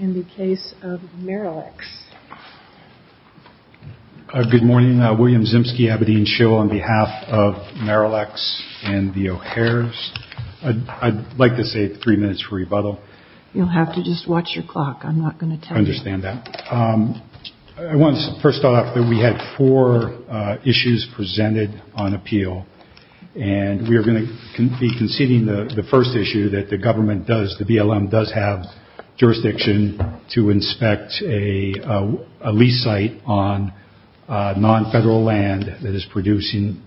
in the case of Maralex. Good morning, William Zimski, Abidine Schill, on behalf of Maralex and the O'Hares. I'd like to save three minutes for rebuttal. You'll have to just watch your clock. I'm not going to tell you. I understand that. First off, we had four issues presented on appeal, and we are going to be conceding the first issue, that the government does, the BLM does have jurisdiction to inspect a lease site on non-federal land that is producing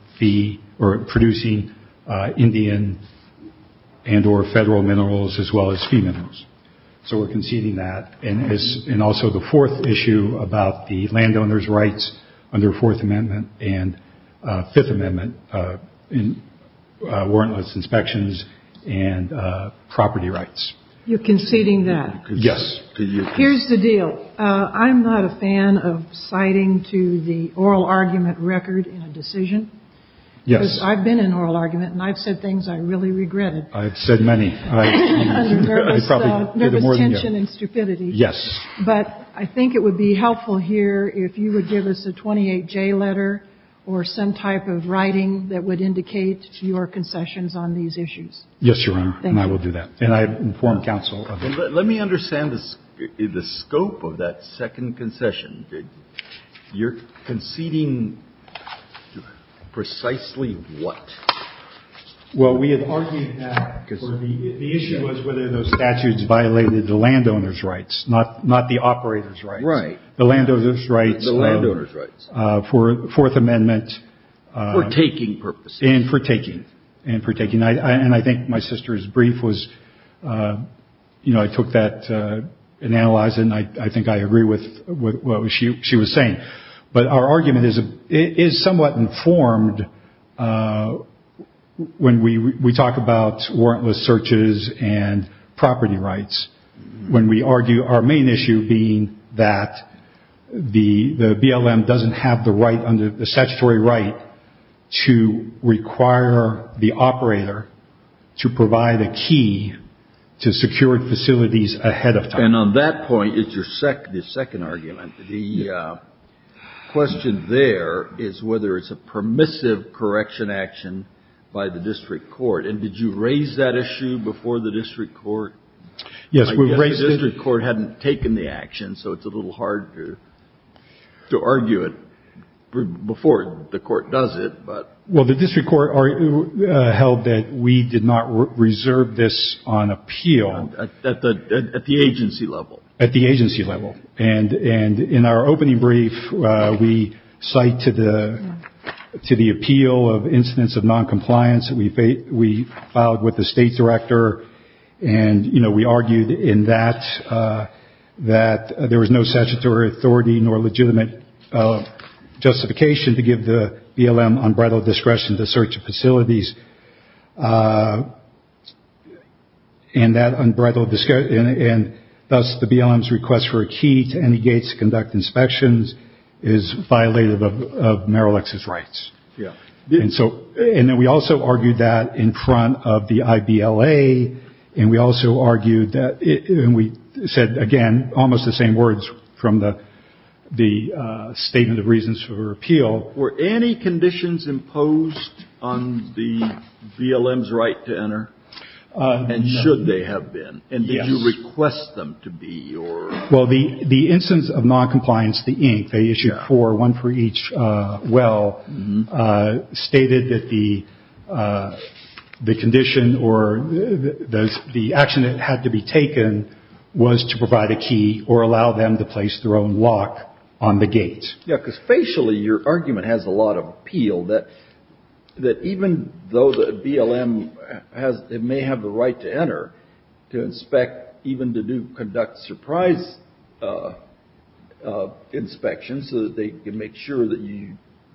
Indian and or federal minerals as well as fee minerals. So we're conceding that, and also the fourth issue about the warrantless inspections and property rights. You're conceding that? Yes. Here's the deal. I'm not a fan of citing to the oral argument record a decision. Yes. Because I've been in oral argument, and I've said things I really regretted. I've said many. Nervous tension and stupidity. Yes. But I think it would be helpful here if you would give us a 28-J letter or some type of document that would indicate your concessions on these issues. Yes, Your Honor. Thank you. And I will do that. And I inform counsel of that. Let me understand the scope of that second concession. You're conceding precisely what? Well, we had argued that the issue was whether those statutes violated the landowner's rights, not the operator's rights. Right. The landowner's rights. The landowner's rights. For Fourth Amendment. For taking purposes. And for taking. And for taking. And I think my sister's brief was, you know, I took that and analyzed it, and I think I agree with what she was saying. But our argument is somewhat informed when we talk about warrantless searches and the BLM doesn't have the statutory right to require the operator to provide a key to secured facilities ahead of time. And on that point is your second argument. The question there is whether it's a permissive correction action by the district court. And did you raise that issue before the district court? Yes, we raised it. The district court hadn't taken the action, so it's a little hard to argue it before the court does it. Well, the district court held that we did not reserve this on appeal. At the agency level. At the agency level. And in our opening brief, we cite to the appeal of incidents of that there was no statutory authority nor legitimate justification to give the BLM unbridled discretion to search facilities. And that unbridled discretion and thus the BLM's request for a key to any gates to conduct inspections is violative of Merrill Exe's rights. Yeah. I said, again, almost the same words from the statement of reasons for appeal. Were any conditions imposed on the BLM's right to enter? And should they have been? Yes. And did you request them to be? Well, the instance of noncompliance, the ink, they issued four, one for each well, stated that the condition or the action that had to be taken was to provide a key or allow them to place their own lock on the gate. Yeah, because facially, your argument has a lot of appeal that even though the BLM may have the right to enter, to inspect, even to conduct surprise inspections so that they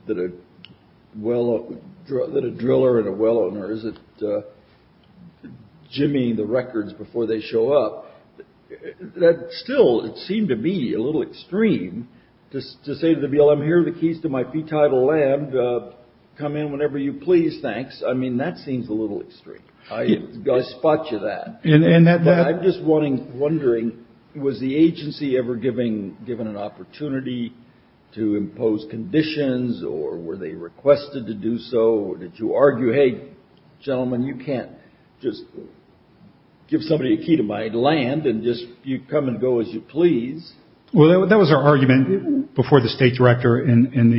that a driller and a well owner isn't jimmying the records before they show up, that still it seemed to be a little extreme to say to the BLM, here are the keys to my P-Title lab, come in whenever you please, thanks. I mean, that seems a little extreme. I spot you that. I'm just wondering, was the agency ever given an opportunity to impose conditions or were they requested to do so? Or did you argue, hey, gentlemen, you can't just give somebody a key to my land and just you come and go as you please. Well, that was our argument before the state director in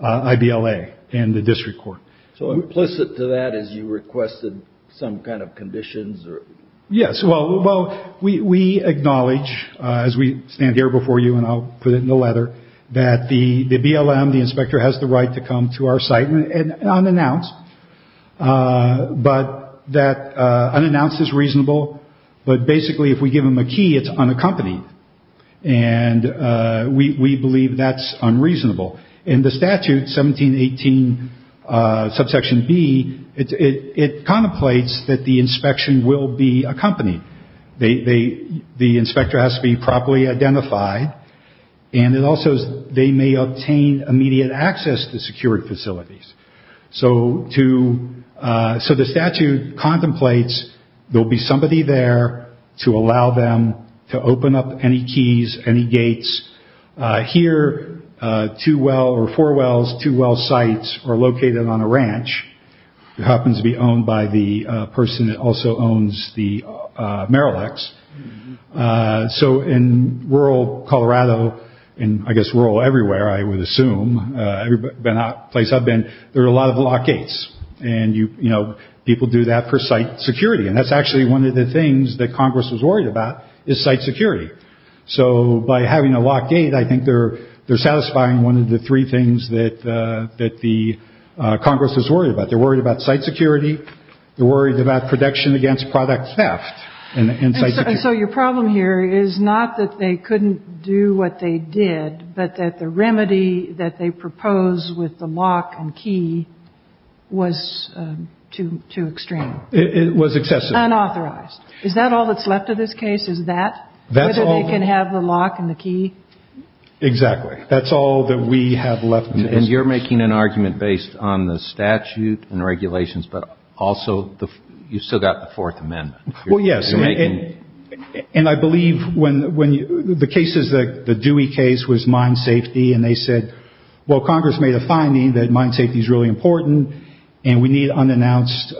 the I-B-L-A and the district court. So implicit to that is you requested some kind of conditions or? Yes. Well, we acknowledge as we stand here before you, and I'll put it in the letter, that the BLM, the inspector, has the right to come to our site unannounced. But that unannounced is reasonable. But basically, if we give them a key, it's unaccompanied. And we believe that's unreasonable. In the statute, 1718 subsection B, it contemplates that the inspection will be accompanied. The inspector has to be properly identified. And it also says they may obtain immediate access to security facilities. So the statute contemplates there will be somebody there to allow them to open up any keys, any gates. Here, two well or four wells, two well sites are located on a ranch. It happens to be owned by the person that also owns the Merrill X. So in rural Colorado, and I guess rural everywhere, I would assume, but not the place I've been, there are a lot of locked gates. And, you know, people do that for site security. And that's actually one of the things that Congress was worried about, is site security. So by having a locked gate, I think they're satisfying one of the three things that the Congress was worried about. They're worried about site security. They're worried about protection against product theft. And so your problem here is not that they couldn't do what they did, but that the remedy that they proposed with the lock and key was too extreme. It was excessive. Unauthorized. Is that all that's left of this case? Is that whether they can have the lock and the key? Exactly. That's all that we have left of this case. And you're making an argument based on the statute and regulations, but also you've still got the Fourth Amendment. Well, yes. And I believe when the cases, the Dewey case was mine safety, and they said, well, Congress made a finding that mine safety is really important, and we need unannounced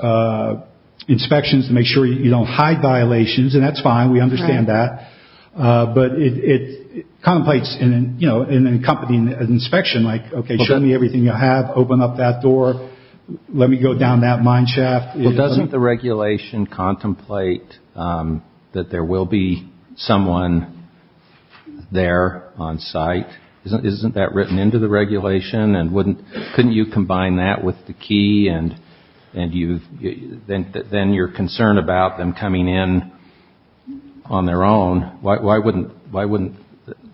inspections to make sure you don't hide violations. And that's fine. We understand that. But it contemplates an accompanying inspection, like, okay, show me everything you have. Open up that door. Let me go down that mine shaft. Well, doesn't the regulation contemplate that there will be someone there on site? Isn't that written into the regulation? Couldn't you combine that with the key, and then your concern about them coming in on their own, why wouldn't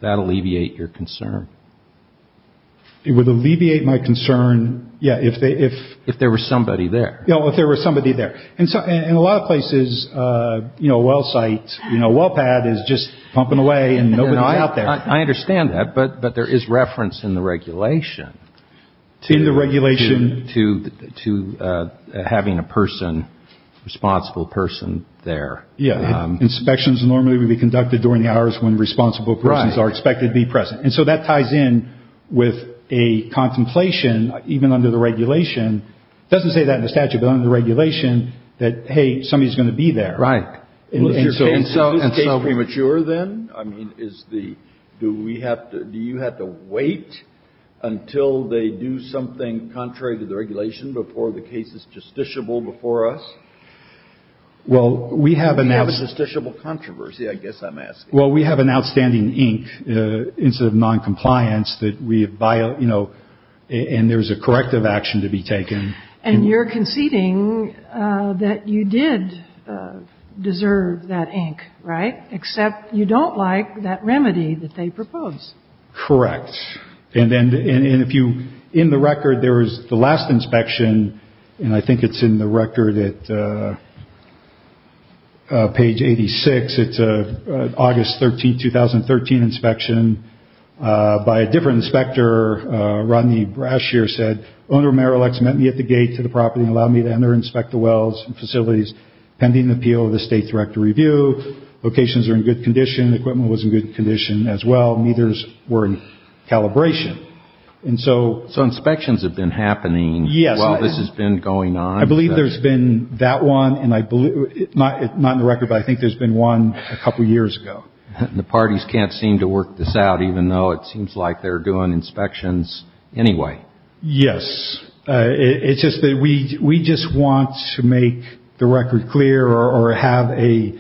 that alleviate your concern? It would alleviate my concern, yeah. If there was somebody there. If there was somebody there. In a lot of places, you know, a well site, you know, a well pad is just pumping away and nobody's out there. I understand that. But there is reference in the regulation to having a person, responsible person, there. Yeah. Inspections normally would be conducted during the hours when responsible persons are expected to be present. And so that ties in with a contemplation, even under the regulation. It doesn't say that in the statute, but under the regulation, that, hey, somebody's going to be there. Right. And so is this case premature then? I mean, is the, do we have to, do you have to wait until they do something contrary to the regulation before the case is justiciable before us? Well, we have an. We have a justiciable controversy, I guess I'm asking. Well, we have an outstanding ink, instead of noncompliance, that we have, you know, and there's a corrective action to be taken. And you're conceding that you did deserve that ink. Right. Except you don't like that remedy that they propose. Correct. And then if you in the record, there was the last inspection. And I think it's in the record that page 86. It's August 13, 2013 inspection by a different inspector. Rodney Brashear said owner Merrill X met me at the gate to the property and allowed me to enter, inspect the wells and facilities pending the appeal of the state director review. Locations are in good condition. Equipment was in good condition as well. Meters were in calibration. And so inspections have been happening. Yes. This has been going on. I believe there's been that one. Not in the record, but I think there's been one a couple of years ago. The parties can't seem to work this out, even though it seems like they're doing inspections anyway. Yes. It's just that we we just want to make the record clear or have a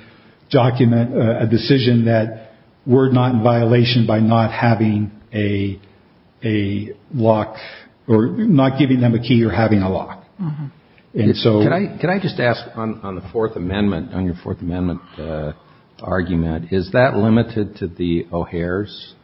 document, a decision that we're not in violation by not having a a lock or not giving them a key or having a lock. So can I just ask on the Fourth Amendment on your Fourth Amendment argument, is that limited to the O'Hare's?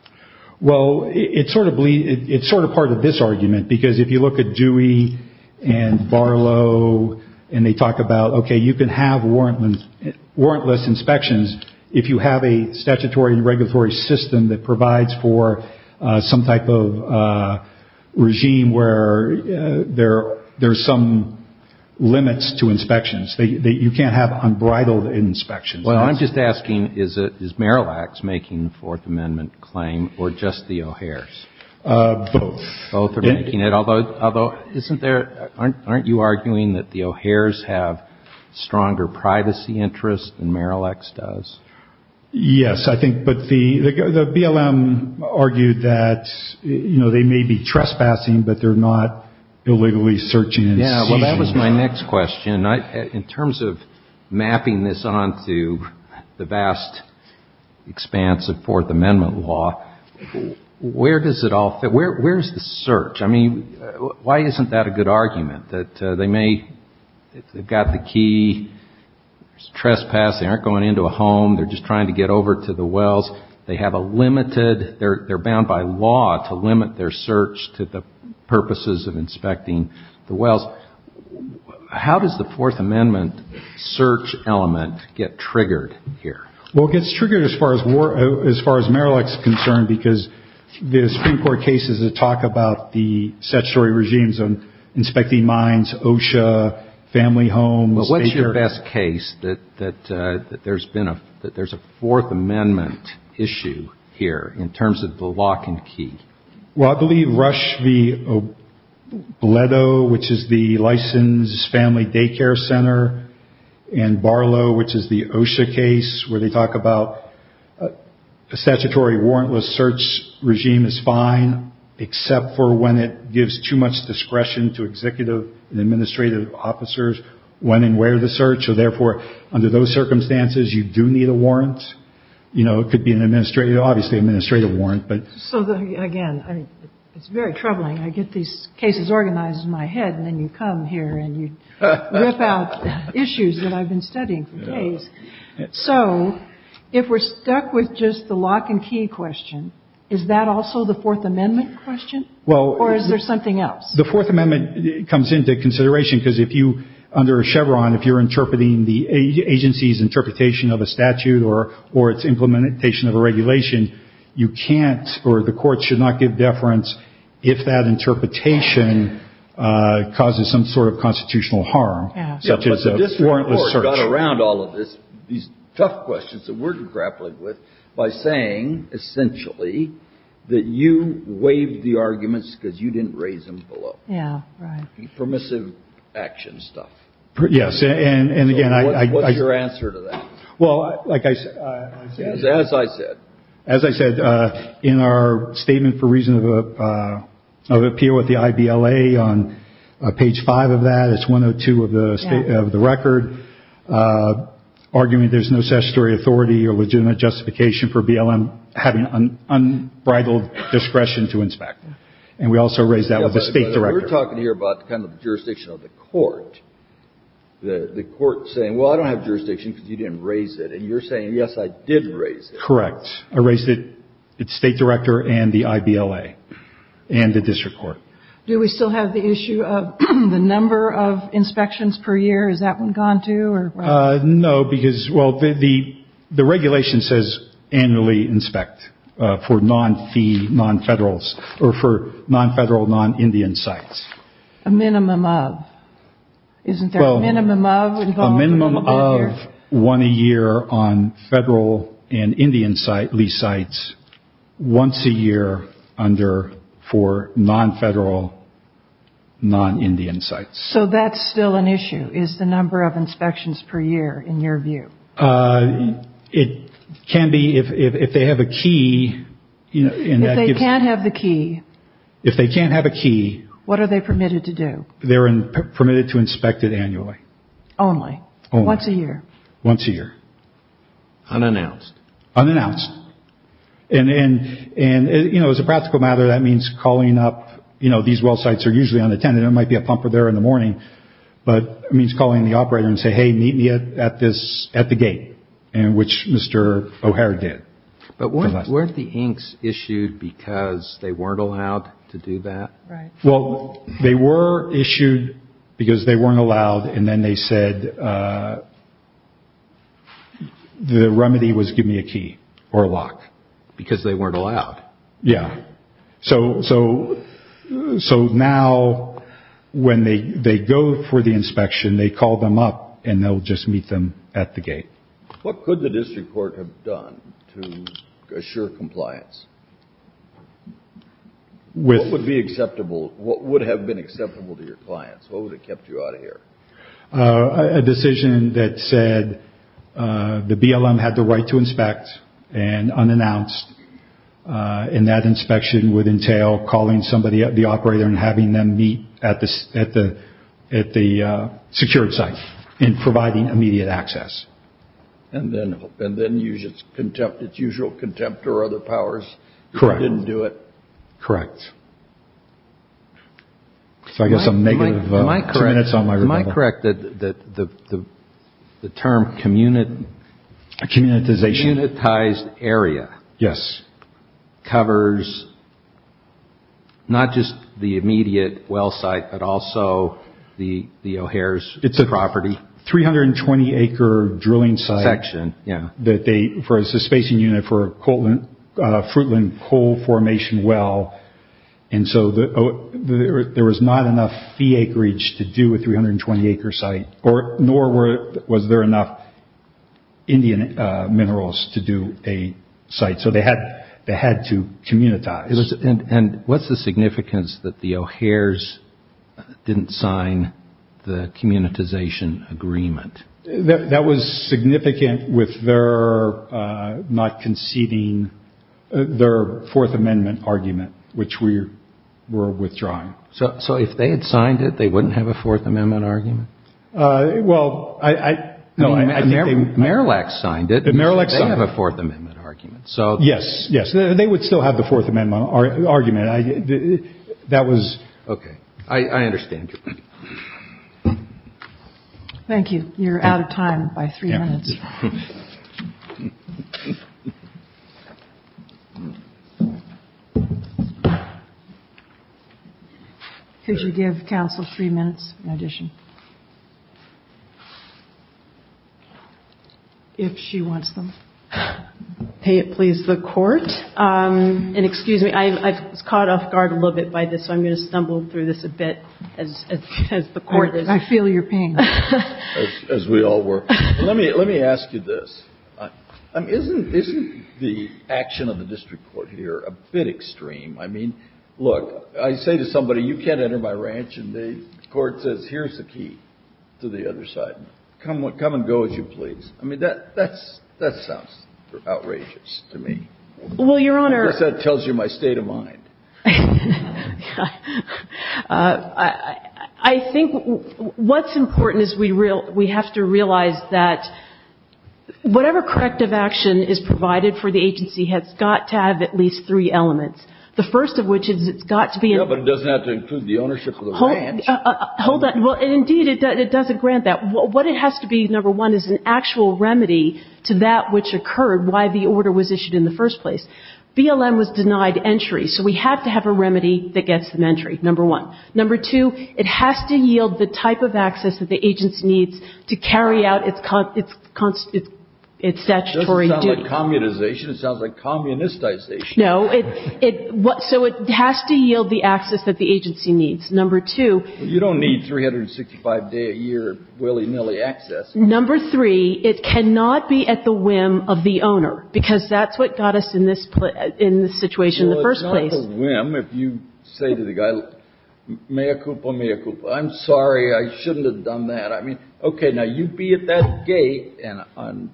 Well, it's sort of it's sort of part of this argument, because if you look at Dewey and Barlow and they talk about, OK, you can have warrantless inspections if you have a statutory and regulatory system that provides for some type of regime where there there's some limits to inspections that you can't have unbridled inspections. Well, I'm just asking, is it is Merrill X making the Fourth Amendment claim or just the O'Hare's both? Both are making it, although although isn't there. Aren't you arguing that the O'Hare's have stronger privacy interests and Merrill X does? Yes, I think. But the BLM argued that, you know, they may be trespassing, but they're not illegally searching. Yeah. Well, that was my next question. In terms of mapping this on to the vast expanse of Fourth Amendment law, where does it all fit? Where where's the search? I mean, why isn't that a good argument that they may have got the key trespass? They aren't going into a home. They're just trying to get over to the wells. They have a limited they're bound by law to limit their search to the purposes of inspecting the wells. How does the Fourth Amendment search element get triggered here? Well, it gets triggered as far as as far as Merrill X concerned, because the Supreme Court cases that talk about the statutory regimes on inspecting mines, OSHA, family homes. What's your best case that that there's been a that there's a Fourth Amendment issue here in terms of the lock and key? Well, I believe Rush v. Bledsoe, which is the licensed family daycare center and Barlow, which is the OSHA case where they talk about a statutory warrantless search regime is fine, except for when it gives too much discretion to executive and administrative officers when and where the search. So therefore, under those circumstances, you do need a warrant. You know, it could be an administrative, obviously, administrative warrant. But so, again, it's very troubling. I get these cases organized in my head. And then you come here and you rip out issues that I've been studying for days. So if we're stuck with just the lock and key question, is that also the Fourth Amendment question? Well, or is there something else? The Fourth Amendment comes into consideration because if you under Chevron, if you're interpreting the agency's interpretation of a statute or or its implementation of a regulation, you can't or the court should not give deference if that interpretation causes some sort of constitutional harm. This warrant was around all of this. These tough questions that we're grappling with by saying, essentially, that you waived the arguments because you didn't raise them below. Yeah. Permissive action stuff. Yes. And again, I like your answer to that. Well, like I said, as I said, as I said in our statement for reason of appeal with the I.B.L.A. on page five of that, it's one or two of the state of the record, arguing there's no statutory authority or legitimate justification for BLM having unbridled discretion to inspect. And we also raised that with the state director. We're talking here about the kind of jurisdiction of the court. The court saying, well, I don't have jurisdiction because you didn't raise it. And you're saying, yes, I did raise it. Correct. I raised it. It's state director and the I.B.L.A. and the district court. Do we still have the issue of the number of inspections per year? Is that one gone, too? No, because, well, the the regulation says annually inspect for non-fee, non-federal or for non-federal, non-Indian sites. A minimum of? Isn't there a minimum of? A minimum of one a year on federal and Indian site lease sites, once a year under for non-federal, non-Indian sites. So that's still an issue is the number of inspections per year, in your view. It can be if they have a key. If they can't have the key. If they can't have a key. What are they permitted to do? They're permitted to inspect it annually. Only? Only. Once a year? Unannounced? Unannounced. And, you know, as a practical matter, that means calling up, you know, these well sites are usually unattended. There might be a pumper there in the morning. But it means calling the operator and say, hey, meet me at this at the gate, which Mr. O'Hare did. But weren't the inks issued because they weren't allowed to do that? Well, they were issued because they weren't allowed. And then they said the remedy was give me a key or a lock. Because they weren't allowed? Yeah. So now when they go for the inspection, they call them up and they'll just meet them at the gate. What could the district court have done to assure compliance? What would be acceptable? What would have been acceptable to your clients? What would have kept you out of here? A decision that said the BLM had the right to inspect and unannounced. And that inspection would entail calling somebody up, the operator, and having them meet at the secured site and providing immediate access. And then use its usual contempt or other powers? Correct. Didn't do it? Correct. Am I correct that the term communitized area covers not just the immediate well site, but also the O'Hare's property? 320-acre drilling site. Section, yeah. For a spacing unit for a Fruitland coal formation well. And so there was not enough fee acreage to do a 320-acre site, nor was there enough Indian minerals to do a site. So they had to communitize. And what's the significance that the O'Hare's didn't sign the communitization agreement? That was significant with their not conceding their Fourth Amendment argument, which we were withdrawing. So if they had signed it, they wouldn't have a Fourth Amendment argument? Well, I think they would. Marillac signed it. Marillac signed it. They have a Fourth Amendment argument. Yes, yes. They would still have the Fourth Amendment argument. That was. Okay. I understand. Thank you. You're out of time by three minutes. Could you give counsel three minutes in addition? If she wants them. I'm going to pay it, please, the court. And excuse me, I was caught off guard a little bit by this, so I'm going to stumble through this a bit as the court is. I feel your pain. As we all were. Let me ask you this. Isn't the action of the district court here a bit extreme? I mean, look, I say to somebody, you can't enter my ranch, and the court says, here's the key to the other side. Come and go as you please. I mean, that sounds outrageous to me. Well, Your Honor. I guess that tells you my state of mind. I think what's important is we have to realize that whatever corrective action is provided for the agency has got to have at least three elements. The first of which is it's got to be. Yeah, but it doesn't have to include the ownership of the ranch. Hold that. Well, indeed, it doesn't grant that. What it has to be, number one, is an actual remedy to that which occurred, why the order was issued in the first place. BLM was denied entry. So we have to have a remedy that gets them entry, number one. Number two, it has to yield the type of access that the agency needs to carry out its statutory duty. Doesn't sound like communization. It sounds like communistization. No. So it has to yield the access that the agency needs. Number two. You don't need 365-day-a-year willy-nilly access. Number three, it cannot be at the whim of the owner, because that's what got us in this situation in the first place. Well, it's not a whim if you say to the guy, mea culpa, mea culpa. I'm sorry. I shouldn't have done that. I mean, okay, now you be at that gate on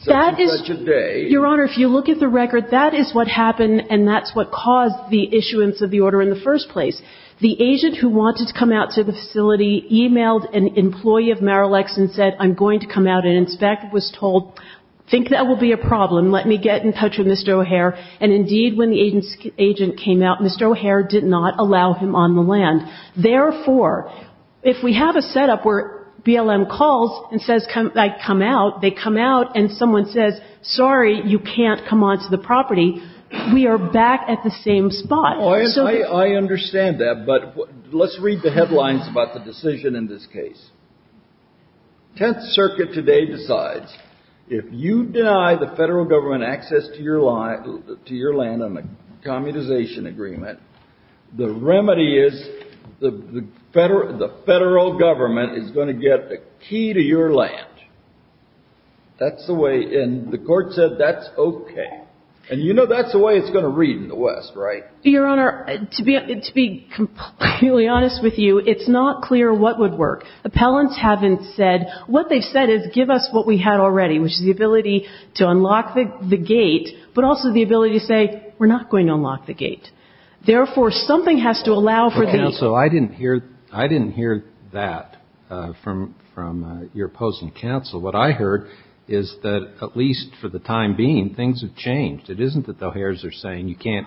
such and such a day. Your Honor, if you look at the record, that is what happened, and that's what caused the issuance of the order in the first place. The agent who wanted to come out to the facility emailed an employee of Marillex and said, I'm going to come out, and an inspector was told, I think that will be a problem. Let me get in touch with Mr. O'Hare. And indeed, when the agent came out, Mr. O'Hare did not allow him on the land. Therefore, if we have a setup where BLM calls and says, come out, they come out, and someone says, sorry, you can't come onto the property, we are back at the same spot. Now, I understand that, but let's read the headlines about the decision in this case. Tenth Circuit today decides if you deny the Federal Government access to your land on a communization agreement, the remedy is the Federal Government is going to get a key to your land. That's the way, and the Court said that's okay. And you know that's the way it's going to read in the West, right? Your Honor, to be completely honest with you, it's not clear what would work. Appellants haven't said. What they've said is give us what we had already, which is the ability to unlock the gate, but also the ability to say, we're not going to unlock the gate. Therefore, something has to allow for the key. Counsel, I didn't hear that from your opposing counsel. What I heard is that at least for the time being, things have changed. It isn't that the O'Hares are saying you can't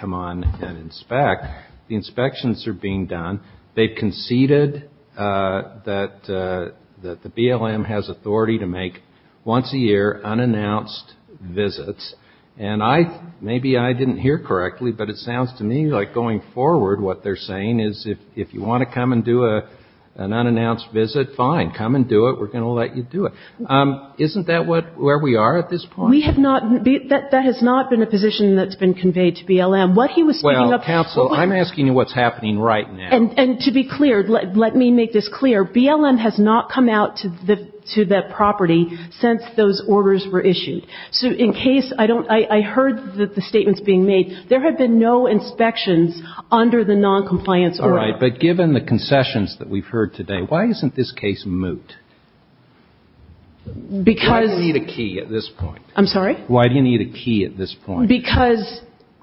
come on and inspect. The inspections are being done. They've conceded that the BLM has authority to make once a year unannounced visits, and maybe I didn't hear correctly, but it sounds to me like going forward what they're saying is if you want to come and do an unannounced visit, fine, come and do it. We're going to let you do it. Isn't that where we are at this point? We have not been, that has not been a position that's been conveyed to BLM. What he was speaking of. Well, counsel, I'm asking you what's happening right now. And to be clear, let me make this clear, BLM has not come out to that property since those orders were issued. So in case, I heard the statements being made. There have been no inspections under the noncompliance order. All right, but given the concessions that we've heard today, why isn't this case moot? Because. Why does he need a key at this point? I'm sorry? Why do you need a key at this point? Because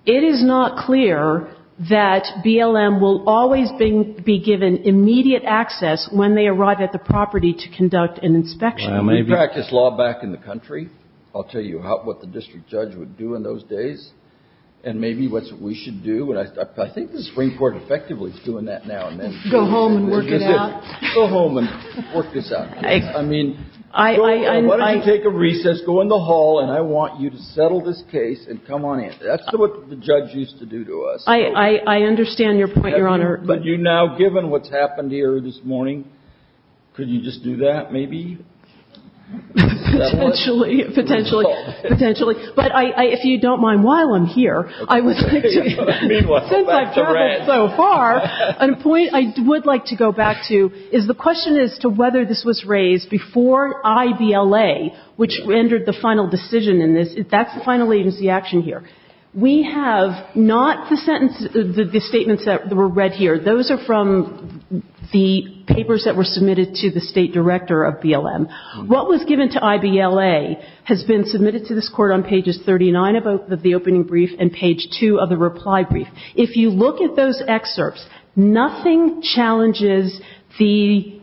it is not clear that BLM will always be given immediate access when they arrive at the property to conduct an inspection. We practice law back in the country. I'll tell you what the district judge would do in those days and maybe what we should do. I think the Supreme Court effectively is doing that now. Go home and work it out. Go home and work this out. I mean, why don't you take a recess, go in the hall, and I want you to settle this case and come on in. That's what the judge used to do to us. I understand your point, Your Honor. But you now, given what's happened here this morning, could you just do that maybe? Potentially. Potentially. Potentially. But if you don't mind, while I'm here, I would like to. Meanwhile, back to Rand. So far, a point I would like to go back to is the question as to whether this was raised before IBLA, which rendered the final decision in this. That's the final agency action here. We have not the sentence, the statements that were read here. Those are from the papers that were submitted to the State Director of BLM. What was given to IBLA has been submitted to this Court on pages 39 of the opening brief and page 2 of the reply brief. If you look at those excerpts, nothing challenges the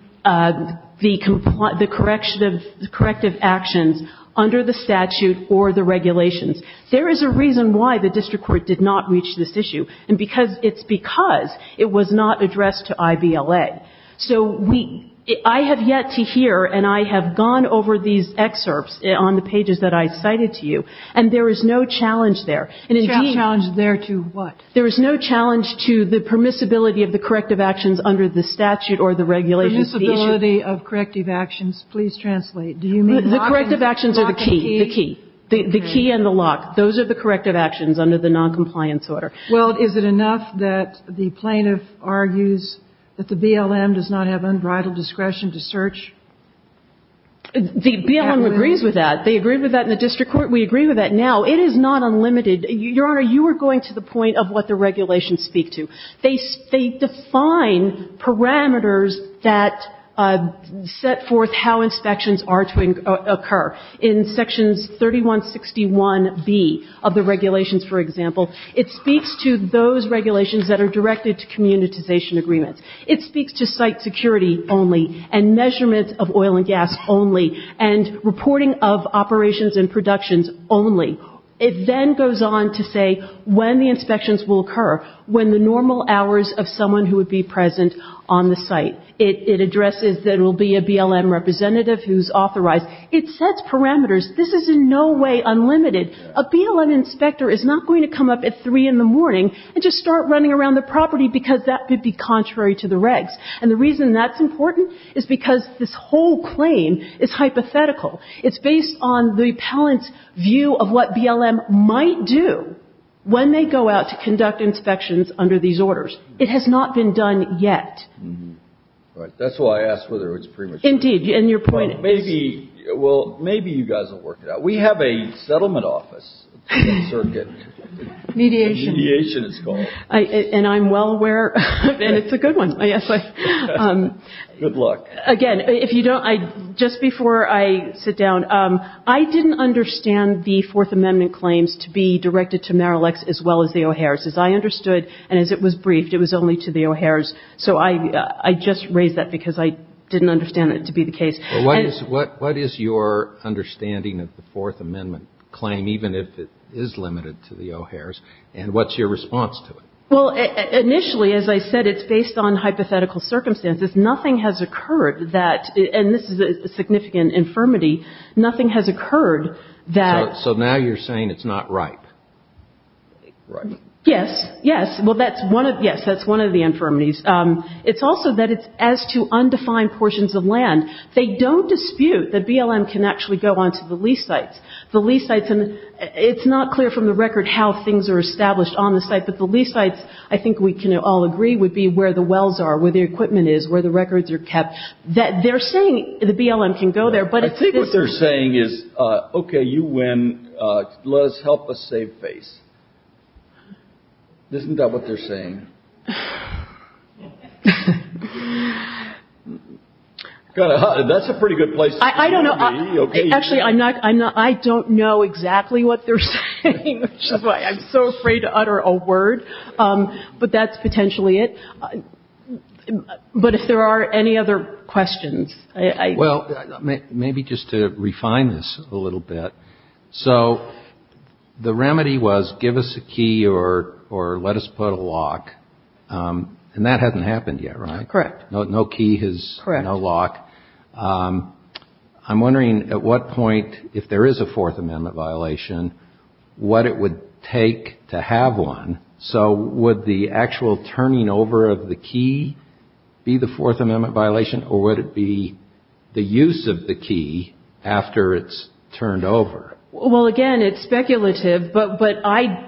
corrective actions under the statute or the regulations. There is a reason why the district court did not reach this issue, and it's because it was not addressed to IBLA. So I have yet to hear, and I have gone over these excerpts on the pages that I cited to you, and there is no challenge there. The challenge there to what? There is no challenge to the permissibility of the corrective actions under the statute or the regulations. Permissibility of corrective actions. Please translate. The corrective actions are the key. The key. The key and the lock. Those are the corrective actions under the noncompliance order. Well, is it enough that the plaintiff argues that the BLM does not have unbridled discretion to search? The BLM agrees with that. They agree with that in the district court. We agree with that now. It is not unlimited. Your Honor, you are going to the point of what the regulations speak to. They define parameters that set forth how inspections are to occur. In sections 3161B of the regulations, for example, it speaks to those regulations that are directed to communitization agreements. It speaks to site security only and measurements of oil and gas only and reporting of operations and productions only. It then goes on to say when the inspections will occur, when the normal hours of someone who would be present on the site. It addresses there will be a BLM representative who is authorized. It sets parameters. This is in no way unlimited. A BLM inspector is not going to come up at 3 in the morning and just start running around the property because that would be contrary to the regs. And the reason that's important is because this whole claim is hypothetical. It's based on the appellant's view of what BLM might do when they go out to conduct inspections under these orders. It has not been done yet. All right. That's why I asked whether it was premature. Indeed. And your point is? Well, maybe you guys will work it out. We have a settlement office. Mediation. Mediation it's called. And I'm well aware of it, and it's a good one, I guess. Good luck. Again, if you don't, just before I sit down, I didn't understand the Fourth Amendment claims to be directed to Marillex as well as the O'Hairs. As I understood, and as it was briefed, it was only to the O'Hairs. So I just raised that because I didn't understand it to be the case. What is your understanding of the Fourth Amendment claim, even if it is limited to the O'Hairs, and what's your response to it? Well, initially, as I said, it's based on hypothetical circumstances. Nothing has occurred that, and this is a significant infirmity, nothing has occurred that... So now you're saying it's not ripe. Yes. Yes. Well, that's one of the infirmities. It's also that it's as to undefined portions of land. They don't dispute that BLM can actually go on to the lease sites. The lease sites, and it's not clear from the record how things are established on the site, but the lease sites, I think we can all agree, would be where the records are kept. They're saying the BLM can go there, but... I think what they're saying is, okay, you win. Let us help us save face. Isn't that what they're saying? That's a pretty good place to start. I don't know. Actually, I don't know exactly what they're saying, which is why I'm so afraid to utter a word. But that's potentially it. But if there are any other questions... Well, maybe just to refine this a little bit. So the remedy was give us a key or let us put a lock, and that hasn't happened yet, right? Correct. No key, no lock. I'm wondering at what point, if there is a Fourth Amendment violation, what it would take to have one. So would the actual turning over of the key be the Fourth Amendment violation, or would it be the use of the key after it's turned over? Well, again, it's speculative, but I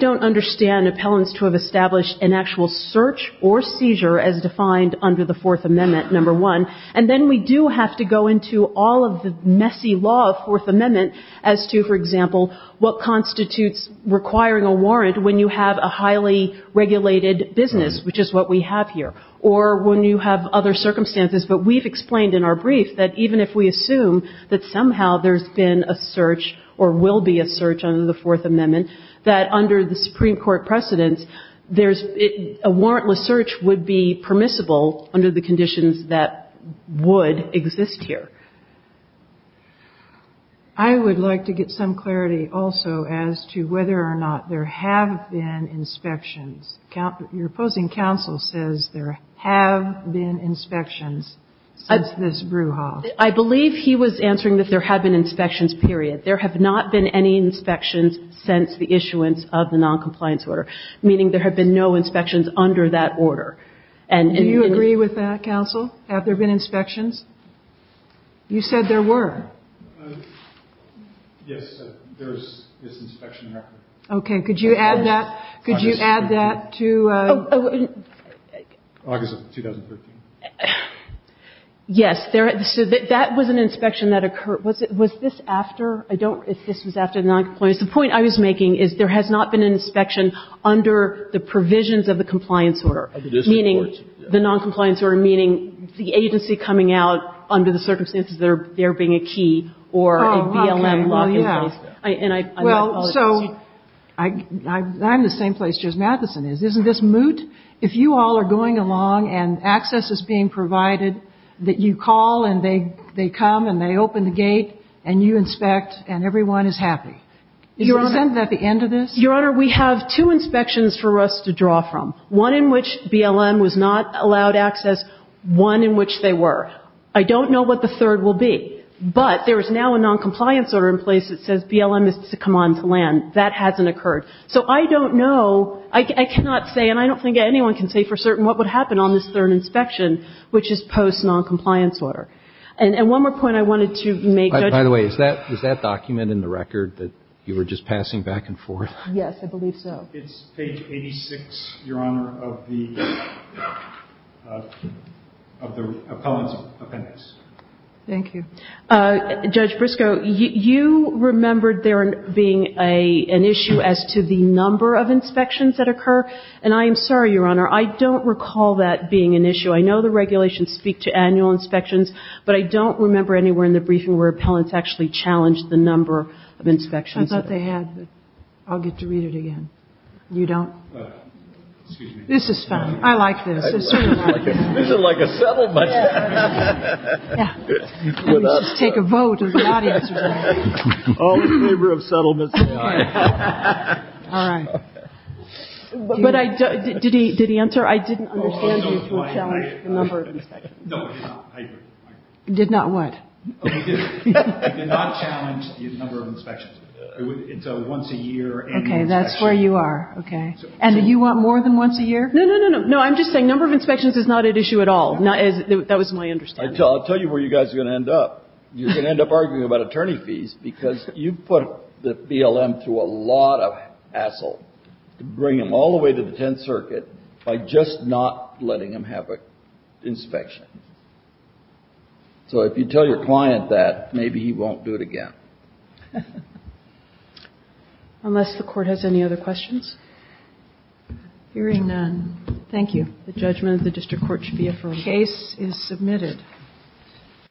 don't understand appellants to have established an actual search or seizure as defined under the Fourth Amendment, number one. And then we do have to go into all of the messy law of Fourth Amendment as to, for example, what constitutes requiring a warrant when you have a highly regulated business, which is what we have here, or when you have other circumstances. But we've explained in our brief that even if we assume that somehow there's been a search or will be a search under the Fourth Amendment, that under the Supreme Court precedents, a warrantless search would be permissible under the conditions that would exist here. I would like to get some clarity also as to whether or not there have been inspections. Your opposing counsel says there have been inspections since this brew hall. I believe he was answering that there have been inspections, period. There have not been any inspections since the issuance of the noncompliance order, meaning there have been no inspections under that order. Do you agree with that, counsel? Have there been inspections? You said there were. Yes. There is this inspection record. Okay. Could you add that? Could you add that to? August of 2013. Yes. So that was an inspection that occurred. Was this after? I don't know if this was after the noncompliance. The point I was making is there has not been an inspection under the provisions of the compliance order, meaning the noncompliance order, meaning the agency coming out under the circumstances there being a key or a BLM lock in place. Well, yeah. And I apologize. Well, so I'm in the same place Judge Matheson is. Isn't this moot? If you all are going along and access is being provided, that you call and they come and they open the gate and you inspect and everyone is happy. Your Honor. Isn't that the end of this? Your Honor, we have two inspections for us to draw from. One in which BLM was not allowed access. One in which they were. I don't know what the third will be. But there is now a noncompliance order in place that says BLM is to come on to land. That hasn't occurred. So I don't know. I cannot say and I don't think anyone can say for certain what would happen on this third inspection, which is post noncompliance order. And one more point I wanted to make, Judge. By the way, is that document in the record that you were just passing back and forth? Yes. I believe so. It's page 86, Your Honor, of the appellant's appendix. Thank you. Judge Briscoe, you remembered there being an issue as to the number of inspections that occur. And I am sorry, Your Honor, I don't recall that being an issue. I know the regulations speak to annual inspections, but I don't remember anywhere in the briefing where appellants actually challenged the number of inspections. I thought they had. I'll get to read it again. You don't? This is fine. I like this. This is like a settlement. Let's just take a vote. All in favor of settlement say aye. All right. But did he answer? I didn't understand you to challenge the number of inspections. No, I did not. Did not what? I did not challenge the number of inspections. It's a once a year annual inspection. Okay, that's where you are. Okay. And do you want more than once a year? No, no, no, no. I'm just saying number of inspections is not at issue at all. That was my understanding. I'll tell you where you guys are going to end up. You're going to end up arguing about attorney fees because you put the BLM through a lot of hassle to bring them all the way to the Tenth Circuit by just not letting them have an inspection. So if you tell your client that, maybe he won't do it again. Unless the court has any other questions. Hearing none, thank you. The judgment of the district court should be affirmed. Case is submitted.